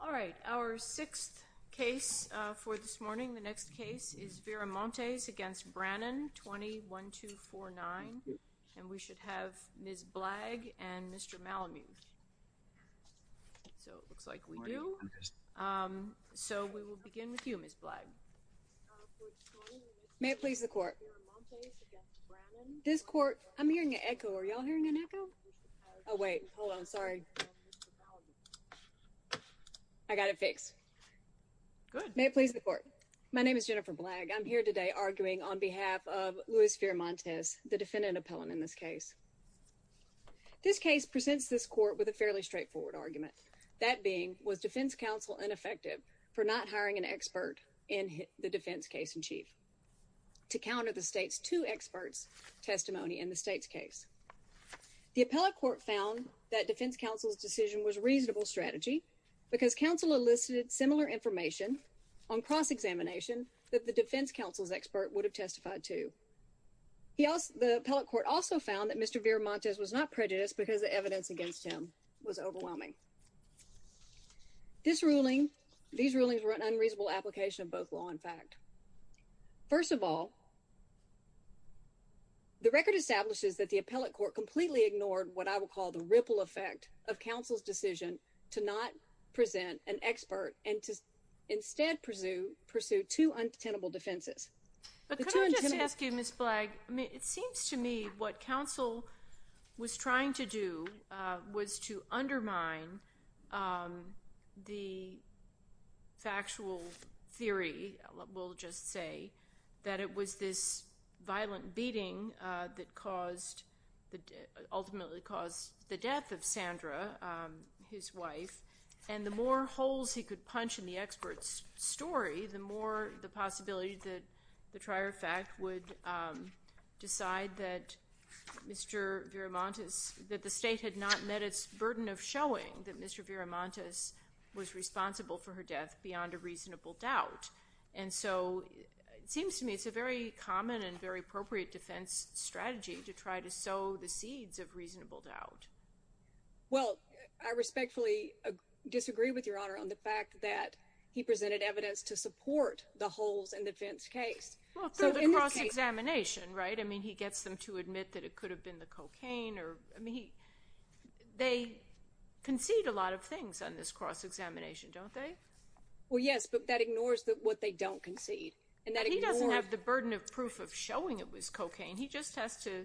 All right, our sixth case for this morning. The next case is Viramontes against Brannon 21249 and we should have Ms. Blagg and Mr. Malamute So it looks like we do So we will begin with you, Ms. Blagg May it please the court This court I'm hearing an echo. Are y'all hearing an echo? Oh wait, hold on. Sorry I got it fixed May it please the court. My name is Jennifer Blagg. I'm here today arguing on behalf of Luis Viramontes, the defendant appellant in this case This case presents this court with a fairly straightforward argument That being was defense counsel ineffective for not hiring an expert in the defense case in chief to counter the state's two experts testimony in the state's case The appellate court found that defense counsel's decision was reasonable strategy because counsel elicited similar information on cross-examination that the defense counsel's expert would have testified to He asked the appellate court also found that mr. Viramontes was not prejudiced because the evidence against him was overwhelming This ruling these rulings were an unreasonable application of both law and fact first of all The Record establishes that the appellate court completely ignored what I would call the ripple effect of counsel's decision to not present an expert and to Instead pursue pursue two untenable defenses Ask you miss blagg. I mean it seems to me what counsel was trying to do was to undermine The Factual theory will just say that it was this violent beating that caused the ultimately caused the death of Sandra His wife and the more holes he could punch in the experts story the more the possibility that the trier fact would decide that Mr. Viramontes that the state had not met its burden of showing that mr. Viramontes was responsible for her death beyond a reasonable doubt and so It seems to me. It's a very common and very appropriate defense strategy to try to sow the seeds of reasonable doubt Well, I respectfully Disagree with your honor on the fact that he presented evidence to support the holes and defense case Examination right? I mean he gets them to admit that it could have been the cocaine or I mean they Concede a lot of things on this cross examination, don't they? Well, yes, but that ignores that what they don't concede and that he doesn't have the burden of proof of showing it was cocaine He just has to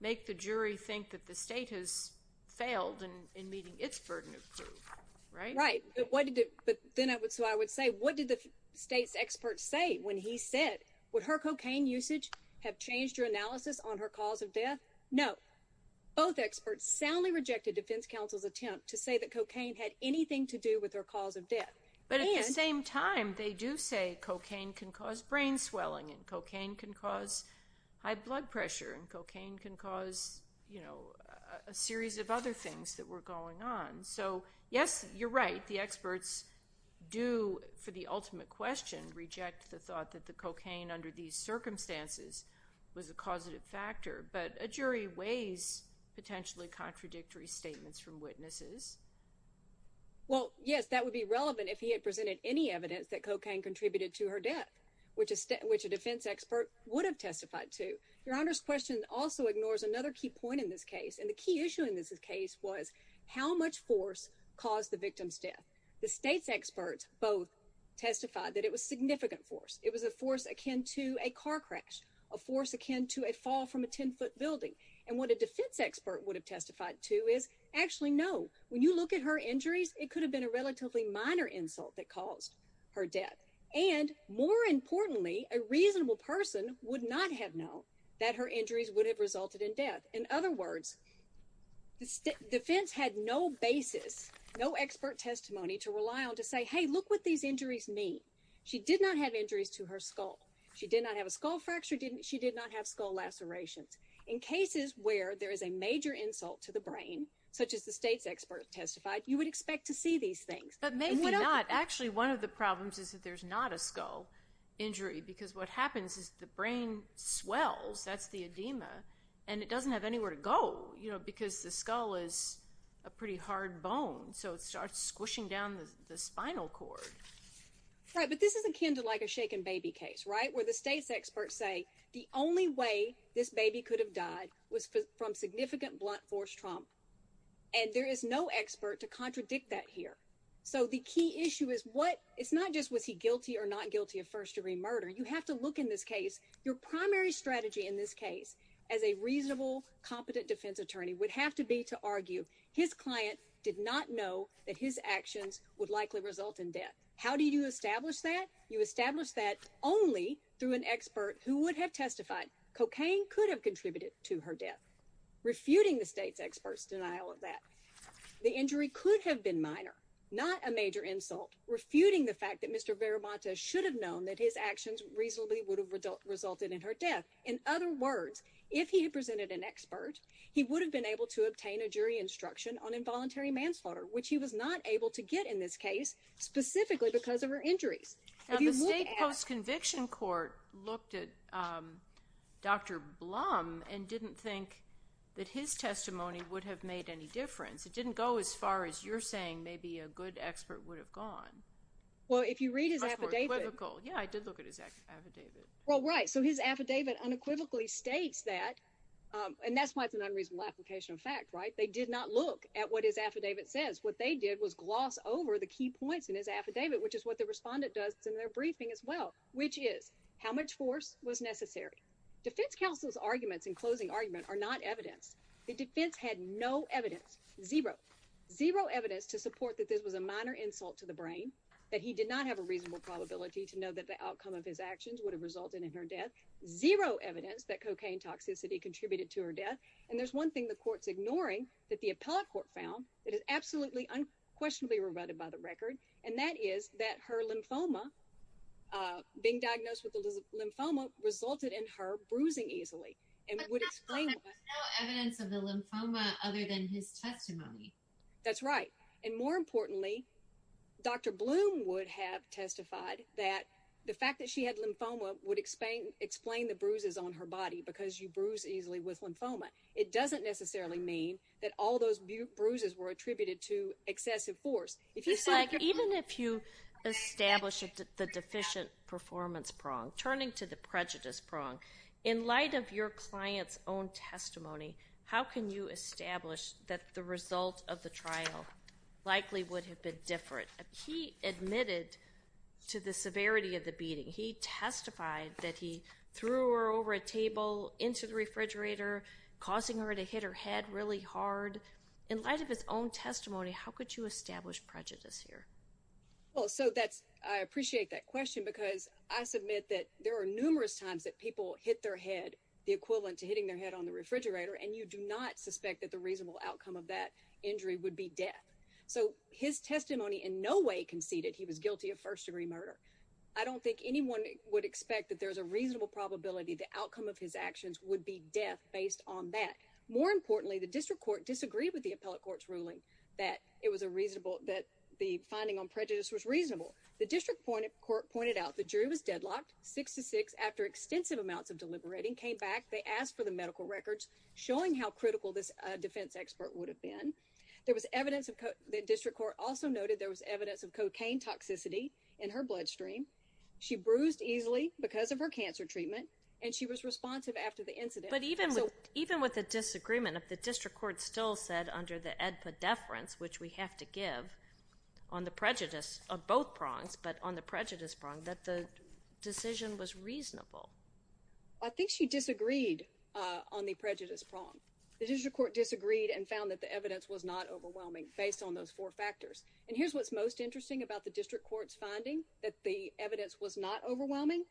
make the jury think that the state has failed and in meeting its burden of truth, right? Right, but what did it but then I would so I would say what did the state's experts say when he said? Would her cocaine usage have changed your analysis on her cause of death? No Both experts soundly rejected defense counsel's attempt to say that cocaine had anything to do with her cause of death But at the same time they do say cocaine can cause brain swelling and cocaine can cause High blood pressure and cocaine can cause you know a series of other things that were going on So yes, you're right the experts Do for the ultimate question reject the thought that the cocaine under these circumstances Was a causative factor, but a jury weighs potentially contradictory statements from witnesses Well, yes That would be relevant if he had presented any evidence that cocaine contributed to her death Which is which a defense expert would have testified to your honor's question also ignores another key point in this case And the key issue in this case was how much force caused the victim's death the state's experts both Testified that it was significant force it was a force akin to a car crash a force akin to a fall from a 10-foot building and what a defense expert would Have testified to is actually no when you look at her injuries It could have been a relatively minor insult that caused her death and more importantly a reasonable person Would not have known that her injuries would have resulted in death in other words The defense had no basis no expert testimony to rely on to say hey look what these injuries mean She did not have injuries to her skull. She did not have a skull fracture Didn't she did not have skull lacerations in cases where there is a major insult to the brain such as the state's experts testified You would expect to see these things, but maybe not actually one of the problems is that there's not a skull Injury because what happens is the brain swells That's the edema and it doesn't have anywhere to go, you know, because the skull is a pretty hard bone So it starts squishing down the spinal cord Right, but this is akin to like a shaken baby case, right? where the state's experts say the only way this baby could have died was from significant blunt force trauma and There is no expert to contradict that here So the key issue is what it's not just was he guilty or not guilty of first-degree murder You have to look in this case your primary strategy in this case as a reasonable Competent defense attorney would have to be to argue his client did not know that his actions would likely result in death How do you establish that you establish that only through an expert who would have testified cocaine could have contributed to her death Refuting the state's experts denial of that the injury could have been minor not a major insult Refuting the fact that mr Veramont a should have known that his actions reasonably would have resulted in her death in other words if he had presented an expert He would have been able to obtain a jury instruction on involuntary manslaughter, which he was not able to get in this case specifically because of her injuries Conviction court looked at Dr. Blum and didn't think that his testimony would have made any difference It didn't go as far as you're saying maybe a good expert would have gone Well, if you read his affidavit, yeah, I did look at his affidavit. Well, right So his affidavit unequivocally states that and that's why it's an unreasonable application of fact, right? They did not look at what his affidavit says what they did was gloss over the key points in his affidavit Which is what the respondent does in their briefing as well, which is how much force was necessary? Defense counsel's arguments in closing argument are not evidence The defense had no evidence zero zero evidence to support that This was a minor insult to the brain That he did not have a reasonable probability to know that the outcome of his actions would have resulted in her death Zero evidence that cocaine toxicity contributed to her death and there's one thing the court's ignoring that the appellate court found. It is absolutely Unquestionably rebutted by the record and that is that her lymphoma Being diagnosed with the lymphoma resulted in her bruising easily That's right and more importantly Dr. Bloom would have testified that the fact that she had lymphoma would explain explain the bruises on her body because you bruise Excessive force if you say even if you Establish the deficient performance prong turning to the prejudice prong in light of your client's own testimony How can you establish that the result of the trial? Likely would have been different. He admitted to the severity of the beating He testified that he threw her over a table into the refrigerator Causing her to hit her head really hard in light of his own testimony. How could you establish prejudice here? Well, so that's I appreciate that question because I submit that there are numerous times that people hit their head The equivalent to hitting their head on the refrigerator and you do not suspect that the reasonable outcome of that injury would be death So his testimony in no way conceded. He was guilty of first-degree murder I don't think anyone would expect that there's a reasonable probability the outcome of his actions would be death based on that More importantly the district court disagreed with the appellate court's ruling that it was a reasonable that the finding on prejudice was reasonable The district point of court pointed out the jury was deadlocked six to six after extensive amounts of deliberating came back They asked for the medical records showing how critical this defense expert would have been There was evidence of the district court also noted there was evidence of cocaine toxicity in her bloodstream She bruised easily because of her cancer treatment and she was responsive after the incident But even with even with the disagreement of the district court still said under the edpa deference, which we have to give on the prejudice of both prongs, but on the prejudice prong that the Decision was reasonable. I think she disagreed on the prejudice prong The district court disagreed and found that the evidence was not overwhelming based on those four factors And here's what's most interesting about the district court's finding that the evidence was not overwhelming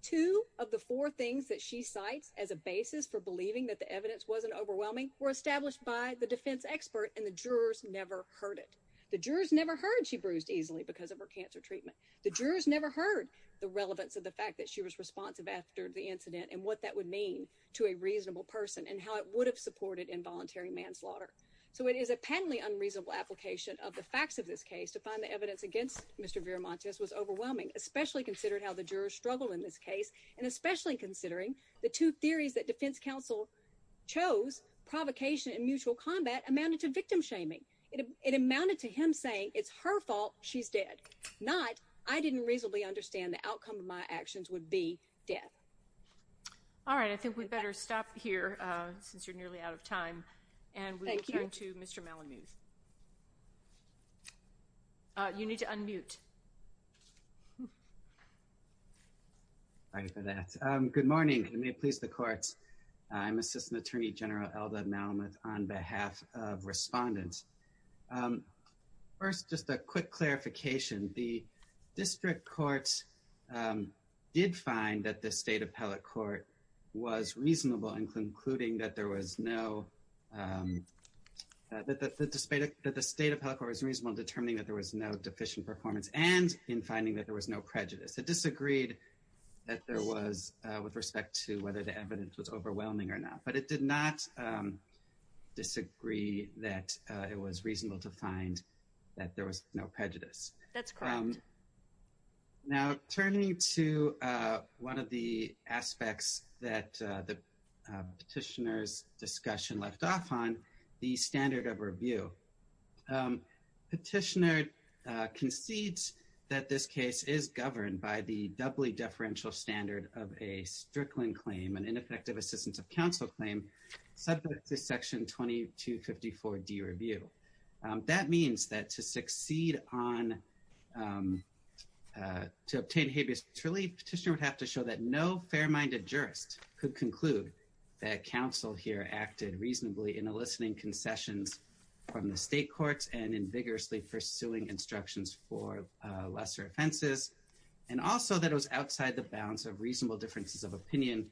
Two of the four things that she cites as a basis for believing that the evidence wasn't overwhelming were established by the defense Expert and the jurors never heard it the jurors never heard She bruised easily because of her cancer treatment the jurors never heard the relevance of the fact that she was responsive after the incident and what that would mean to a Supported involuntary manslaughter. So it is a patently unreasonable application of the facts of this case to find the evidence against. Mr Vera Montes was overwhelming especially considered how the jurors struggle in this case and especially considering the two theories that defense counsel chose Provocation and mutual combat amounted to victim shaming it amounted to him saying it's her fault She's dead not I didn't reasonably understand the outcome of my actions would be death All right, I think we'd better stop here since you're nearly out of time and thank you to mr. Malamud You need to unmute All right for that good morning, I may please the courts I'm assistant attorney general elder Malamud on behalf of respondents First just a quick clarification the district courts Did find that the state appellate court was reasonable in concluding that there was no That the state that the state of health was reasonable determining that there was no deficient performance and in finding that there was no prejudice It disagreed that there was with respect to whether the evidence was overwhelming or not, but it did not Disagree that it was reasonable to find that there was no prejudice. That's Now turning to one of the aspects that the petitioners discussion left off on the standard of review Petitioner concedes that this case is governed by the doubly deferential standard of a Strickland claim and ineffective assistance of counsel claim subject to section 2254 D review that means that to succeed on To obtain habeas truly petitioner would have to show that no fair-minded jurist could conclude that counsel here acted reasonably in eliciting concessions from the state courts and in vigorously pursuing instructions for lesser offenses and Also that was outside the bounds of reasonable differences of opinion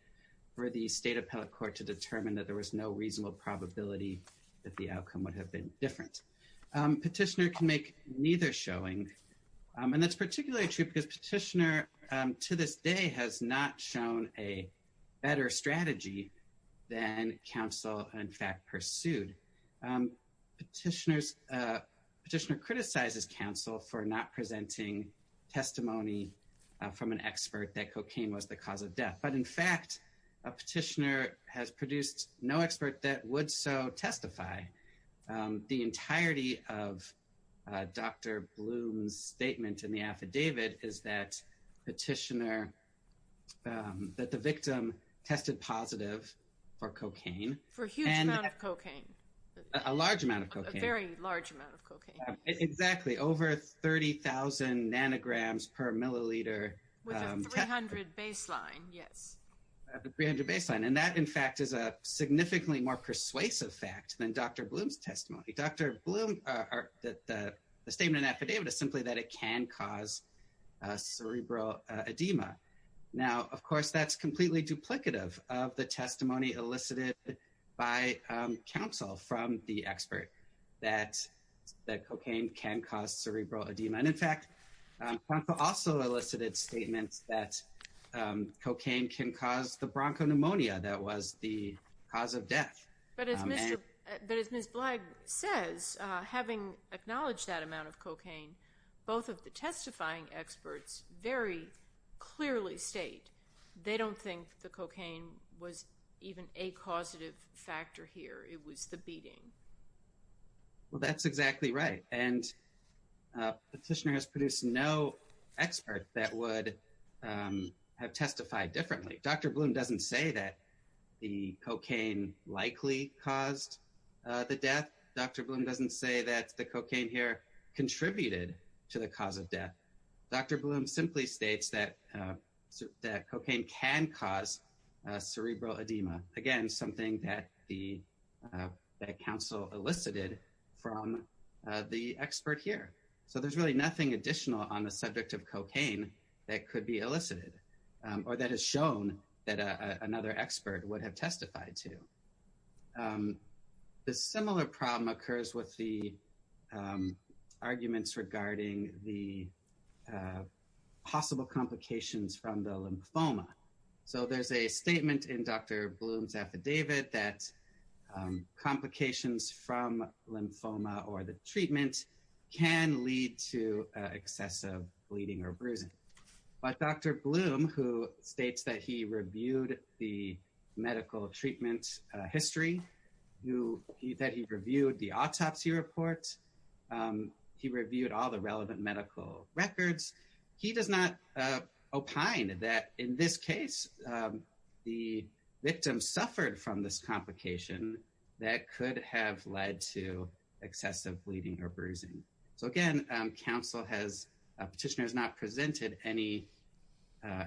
For the state appellate court to determine that there was no reasonable probability that the outcome would have been different Petitioner can make neither showing and that's particularly true because petitioner to this day has not shown a better strategy than counsel in fact pursued Petitioners petitioner criticizes counsel for not presenting testimony from an expert that cocaine was the cause of death, but in fact a Petitioner has produced no expert that would so testify The entirety of Dr. Bloom's statement in the affidavit. Is that petitioner? that the victim tested positive for cocaine for a huge amount of cocaine a large amount of cocaine a very large amount of cocaine exactly over 30,000 nanograms per milliliter 300 baseline and that in fact is a Testimony dr. Bloom are that the statement affidavit is simply that it can cause cerebral edema now, of course, that's completely duplicative of the testimony elicited by counsel from the expert that That cocaine can cause cerebral edema. And in fact, I'm also elicited statements that Cocaine can cause the bronchopneumonia. That was the cause of death But as miss blagg says having acknowledged that amount of cocaine both of the testifying experts very Clearly state they don't think the cocaine was even a causative factor here. It was the beating well, that's exactly right and Petitioner has produced no expert that would Have testified differently. Dr. Bloom doesn't say that the cocaine likely caused The death dr. Bloom doesn't say that the cocaine here Contributed to the cause of death. Dr. Bloom simply states that that cocaine can cause cerebral edema again something that the counsel elicited from The expert here, so there's really nothing additional on the subject of cocaine that could be elicited Or that has shown that another expert would have testified to The similar problem occurs with the Arguments regarding the Possible complications from the lymphoma. So there's a statement in dr. Bloom's affidavit that Complications from lymphoma or the treatment can lead to excessive bleeding or bruising But dr. Bloom who states that he reviewed the medical treatment history Who he that he reviewed the autopsy reports? He reviewed all the relevant medical records. He does not opine that in this case The Victim suffered from this complication that could have led to Excessive bleeding or bruising. So again council has petitioners not presented any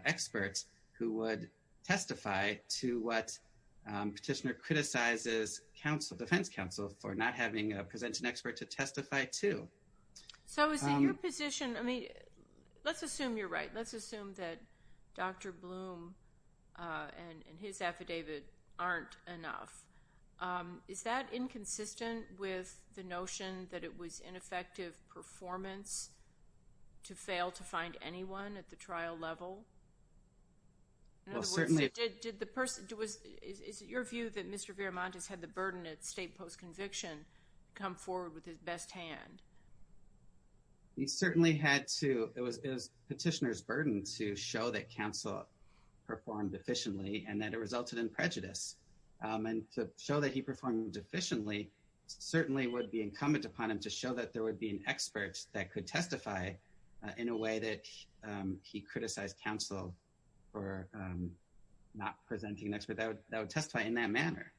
experts who would testify to what petitioner criticizes counsel defense counsel for not having a present an expert to testify to So is it your position? I mean Let's assume you're right. Let's assume that Dr. Bloom And his affidavit aren't enough Is that inconsistent with the notion that it was ineffective performance? To fail to find anyone at the trial level Well, certainly it did the person it was is it your view that mr. Viramont has had the burden at state post conviction come forward with his best hand He certainly had to it was petitioners burden to show that counsel Performed efficiently and that it resulted in prejudice And to show that he performed efficiently Certainly would be incumbent upon him to show that there would be an expert that could testify in a way that he criticized counsel for Not presenting next without that would testify in that manner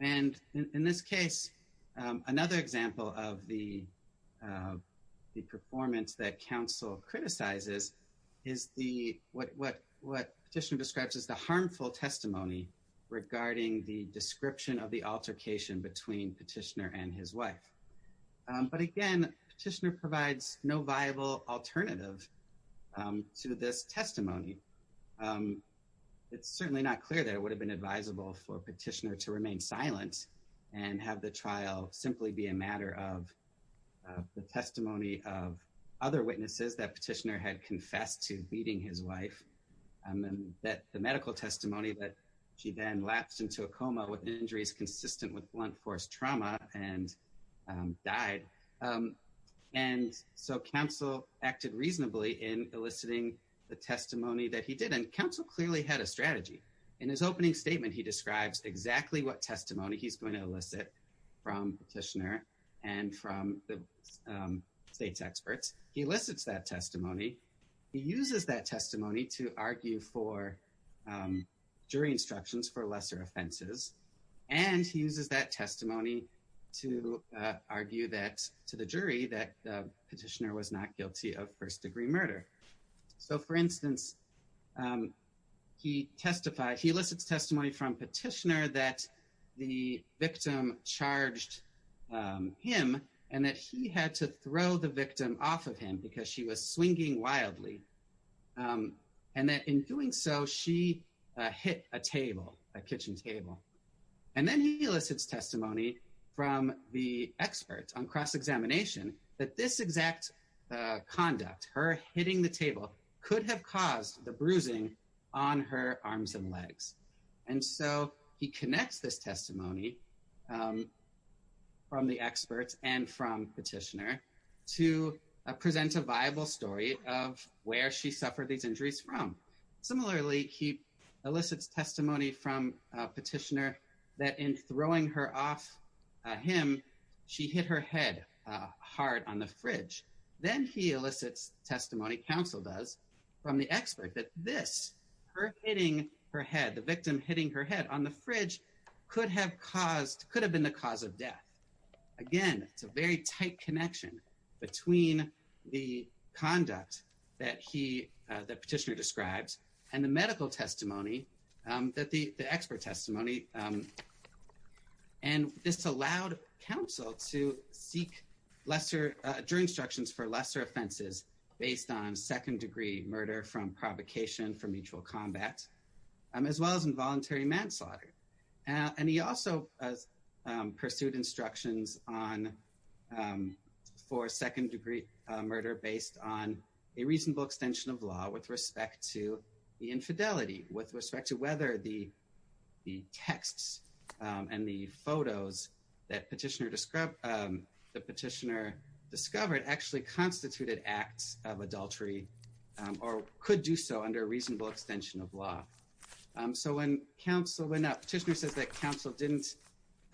and in this case another example of the the performance that counsel Criticizes is the what what what petitioner describes as the harmful testimony? Regarding the description of the altercation between petitioner and his wife But again petitioner provides no viable alternative to this testimony It's certainly not clear that it would have been advisable for petitioner to remain silent and have the trial simply be a matter of the testimony of other witnesses that petitioner had confessed to beating his wife and that the medical testimony that she then lapsed into a coma with injuries consistent with blunt force trauma and died and So counsel acted reasonably in eliciting the testimony that he did and counsel clearly had a strategy in his opening statement He describes exactly what testimony he's going to elicit from petitioner and from the State's experts. He elicits that testimony. He uses that testimony to argue for jury instructions for lesser offenses and he uses that testimony to Argue that to the jury that the petitioner was not guilty of first-degree murder. So for instance He testified he elicits testimony from petitioner that the victim charged Him and that he had to throw the victim off of him because she was swinging wildly and that in doing so she Hit a table a kitchen table and then he elicits testimony from the experts on cross-examination that this exact Conduct her hitting the table could have caused the bruising on her arms and legs. And so he connects this testimony From the experts and from petitioner to Present a viable story of where she suffered these injuries from Similarly, he elicits testimony from petitioner that in throwing her off Him she hit her head hard on the fridge Then he elicits testimony counsel does from the expert that this Her hitting her head the victim hitting her head on the fridge could have caused could have been the cause of death again, it's a very tight connection between the conduct that he the petitioner describes and the medical testimony that the expert testimony and This allowed counsel to seek lesser jury instructions for lesser offenses Based on second-degree murder from provocation from mutual combat As well as involuntary manslaughter and he also pursued instructions on For second-degree murder based on a reasonable extension of law with respect to the infidelity with respect to whether the texts and the photos that petitioner described the petitioner Discovered actually constituted acts of adultery or could do so under a reasonable extension of law So when counsel went up petitioner says that counsel didn't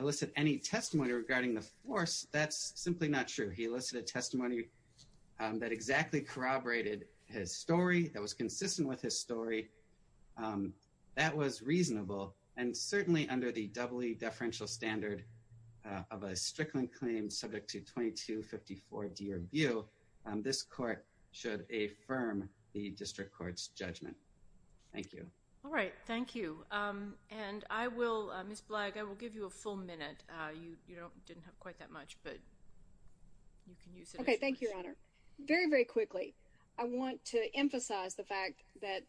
elicit any testimony regarding the force That's simply not true. He listed a testimony That exactly corroborated his story that was consistent with his story That was reasonable and certainly under the doubly deferential standard of a strickland claim subject to 2254 dear view this court should affirm the district courts judgment. Thank you. All right Thank you, and I will miss blagg. I will give you a full minute You you don't didn't have quite that much but You can use it. Okay. Thank you, Your Honor. Very very quickly I want to emphasize the fact that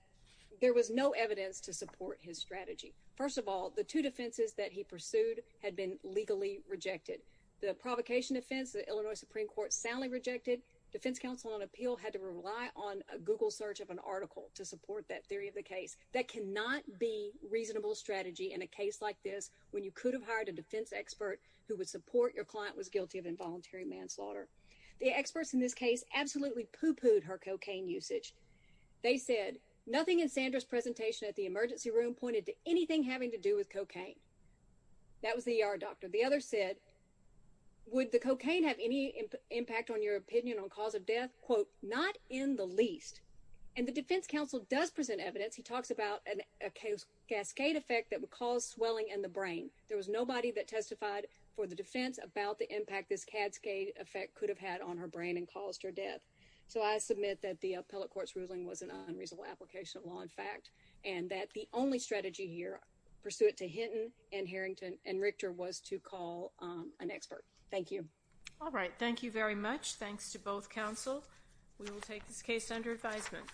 there was no evidence to support his strategy First of all, the two defenses that he pursued had been legally rejected the provocation offense The Illinois Supreme Court soundly rejected defense counsel on appeal had to rely on a Google search of an article to support that theory of the case that cannot be Reasonable strategy in a case like this when you could have hired a defense expert who would support your client was guilty of involuntary Manslaughter the experts in this case absolutely pooh-poohed her cocaine usage They said nothing in Sandra's presentation at the emergency room pointed to anything having to do with cocaine That was the ER doctor. The other said Would the cocaine have any impact on your opinion on cause of death quote not in the least and the defense counsel does present evidence he talks about an Cascade effect that would cause swelling in the brain There was nobody that testified for the defense about the impact this cascade effect could have had on her brain and caused her death So I submit that the appellate court's ruling was an unreasonable application of law in fact and that the only strategy here Pursuit to Hinton and Harrington and Richter was to call an expert. Thank you. All right. Thank you very much Thanks to both counsel. We will take this case under advisement